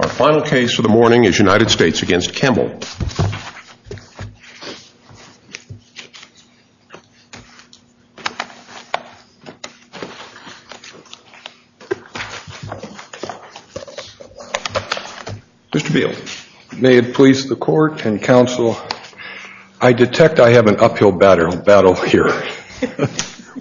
Our final case for the morning is United States v. Campbell. Mr. Beal. May it please the court and counsel, I detect I have an uphill battle here.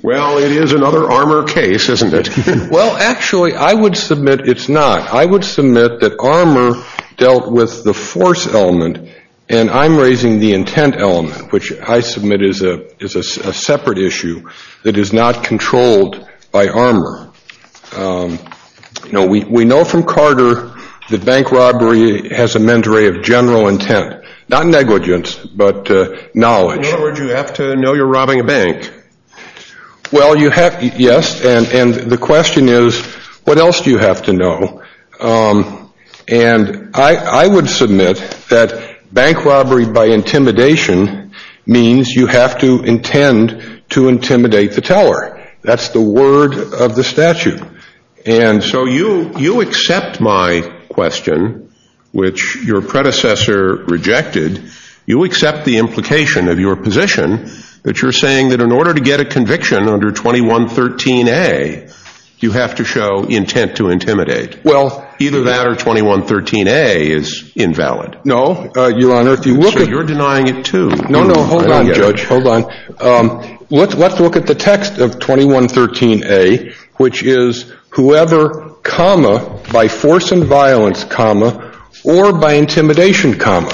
Well, it is another armor case, isn't it? Well, actually, I would submit it's not. I would submit that armor dealt with the force element, and I'm raising the intent element, which I submit is a separate issue that is not controlled by armor. You know, we know from Carter that bank robbery has a mandatory of general intent, not negligence, but knowledge. In other words, you have to know you're robbing a bank. Well, yes, and the question is, what else do you have to know? And I would submit that bank robbery by intimidation means you have to intend to intimidate the teller. That's the word of the statute. And so you accept my question, which your predecessor rejected. You accept the implication of your position that you're saying that in order to get a conviction under 2113A, you have to show intent to intimidate. Well, either that or 2113A is invalid. No, Your Honor. So you're denying it, too. No, no. Hold on, Judge. Hold on. Let's look at the text of 2113A, which is whoever, comma, by force and violence, comma, or by intimidation, comma.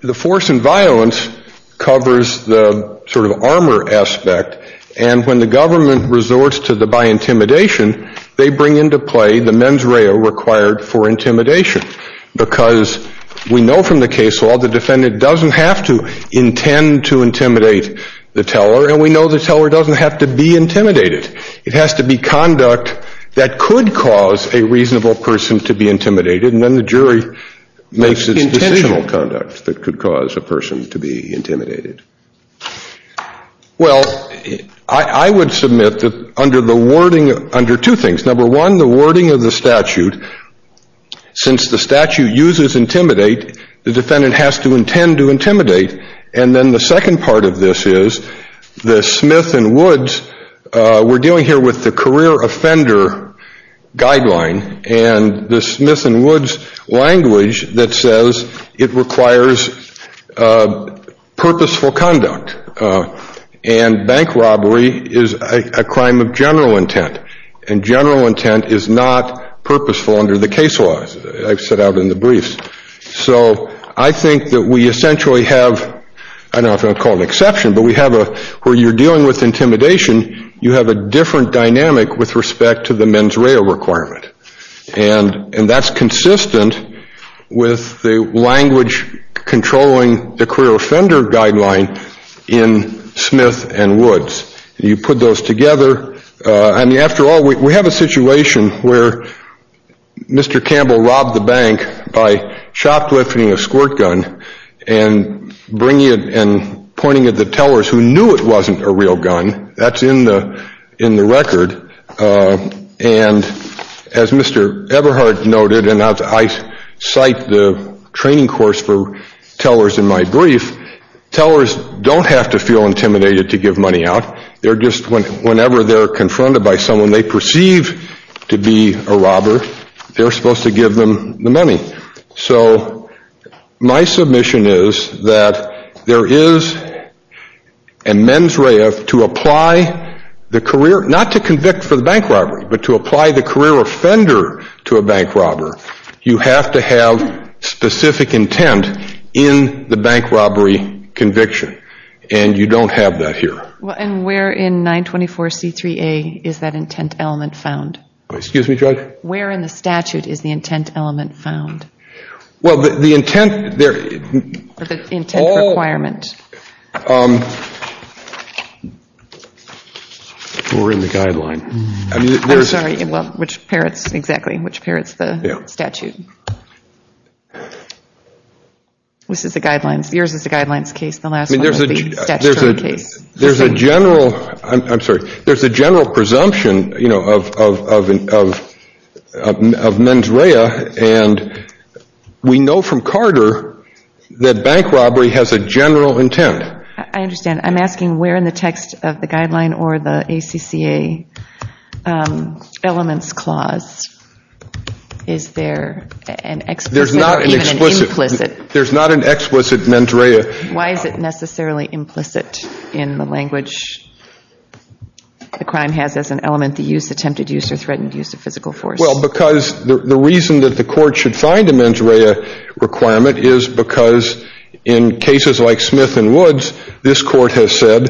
The force and violence covers the sort of armor aspect. And when the government resorts to the by intimidation, they bring into play the mens rea required for intimidation. Because we know from the case law the defendant doesn't have to intend to intimidate the teller, and we know the teller doesn't have to be intimidated. It has to be conduct that could cause a reasonable person to be intimidated, and then the jury makes its intentional conduct that could cause a person to be intimidated. Well, I would submit that under the wording, under two things. Number one, the wording of the statute, since the statute uses intimidate, the defendant has to intend to intimidate. And then the second part of this is the Smith and Woods, we're dealing here with the career offender guideline, and the Smith and Woods language that says it requires purposeful conduct. And bank robbery is a crime of general intent, and general intent is not purposeful under the case law, as I've said out in the briefs. So I think that we essentially have, I don't know if I'd call it an exception, but we have a, where you're dealing with intimidation, you have a different dynamic with respect to the mens rea requirement. And that's consistent with the language controlling the career offender guideline in Smith and Woods. You put those together, and after all, we have a situation where Mr. Campbell robbed the bank by shoplifting a squirt gun and bringing it and pointing it to tellers who knew it wasn't a real gun. That's in the record. And as Mr. Eberhard noted, and I cite the training course for tellers in my brief, tellers don't have to feel intimidated to give money out. They're just, whenever they're confronted by someone they perceive to be a robber, they're supposed to give them the money. So my submission is that there is a mens rea to apply the career, not to convict for the bank robbery, but to apply the career offender to a bank robbery. You have to have specific intent in the bank robbery conviction. And you don't have that here. And where in 924C3A is that intent element found? Excuse me, Judge? Where in the statute is the intent element found? Well, the intent there. The intent requirement. We're in the guideline. I'm sorry. Well, which parrots, exactly, which parrots the statute? This is the guidelines. Yours is the guidelines case. The last one is the statutory case. There's a general, I'm sorry, there's a general presumption, you know, of mens rea, and we know from Carter that bank robbery has a general intent. I understand. I'm asking where in the text of the guideline or the ACCA elements clause is there an explicit or even an implicit? There's not an explicit mens rea. Why is it necessarily implicit in the language the crime has as an element to use, attempted use, or threatened use of physical force? Well, because the reason that the court should find a mens rea requirement is because in cases like Smith and Woods, this court has said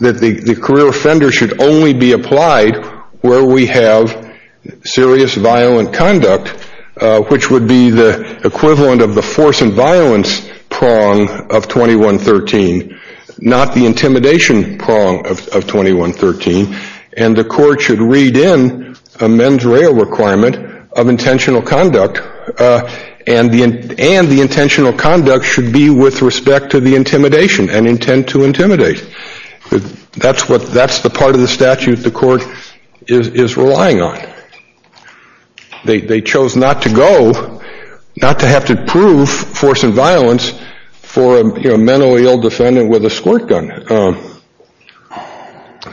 that the career offender should only be applied where we have serious violent conduct, which would be the equivalent of the force and violence prong of 2113, not the intimidation prong of 2113, and the court should read in a mens rea requirement of intentional conduct, and the intentional conduct should be with respect to the intimidation and intent to intimidate. That's the part of the statute the court is relying on. They chose not to go, not to have to prove force and violence for a mentally ill defendant with a squirt gun.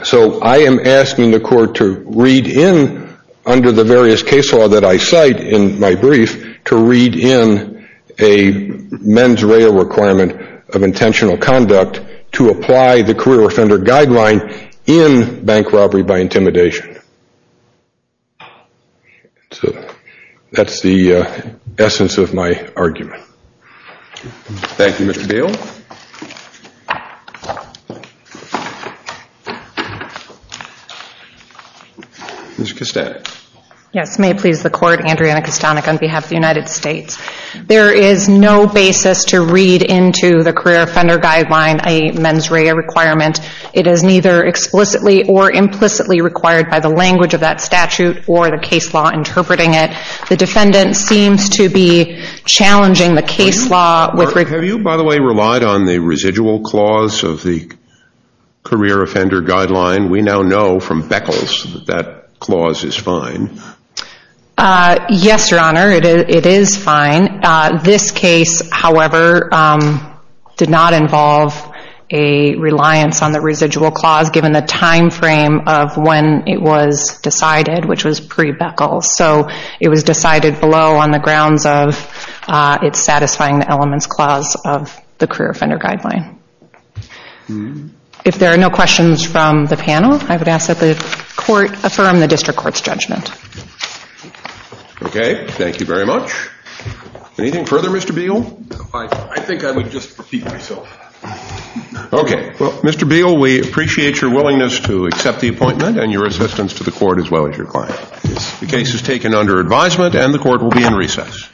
So I am asking the court to read in under the various case law that I cite in my brief to read in a mens rea requirement of intentional conduct to apply the career offender guideline in bank robbery by intimidation. So that's the essence of my argument. Thank you, Mr. Dale. Ms. Kostanek. Yes, may it please the court, Andrea Kostanek on behalf of the United States. There is no basis to read into the career offender guideline a mens rea requirement. It is neither explicitly or implicitly required by the language of that statute or the case law interpreting it. The defendant seems to be challenging the case law. Have you, by the way, relied on the residual clause of the career offender guideline? We now know from Beckles that that clause is fine. Yes, Your Honor, it is fine. This case, however, did not involve a reliance on the residual clause given the time frame of when it was decided, which was pre-Beckles. So it was decided below on the grounds of it satisfying the elements clause of the career offender guideline. If there are no questions from the panel, I would ask that the court affirm the district court's judgment. Okay. Thank you very much. Anything further, Mr. Beagle? I think I would just repeat myself. Okay. Well, Mr. Beagle, we appreciate your willingness to accept the appointment and your assistance to the court as well as your client. The case is taken under advisement and the court will be in recess.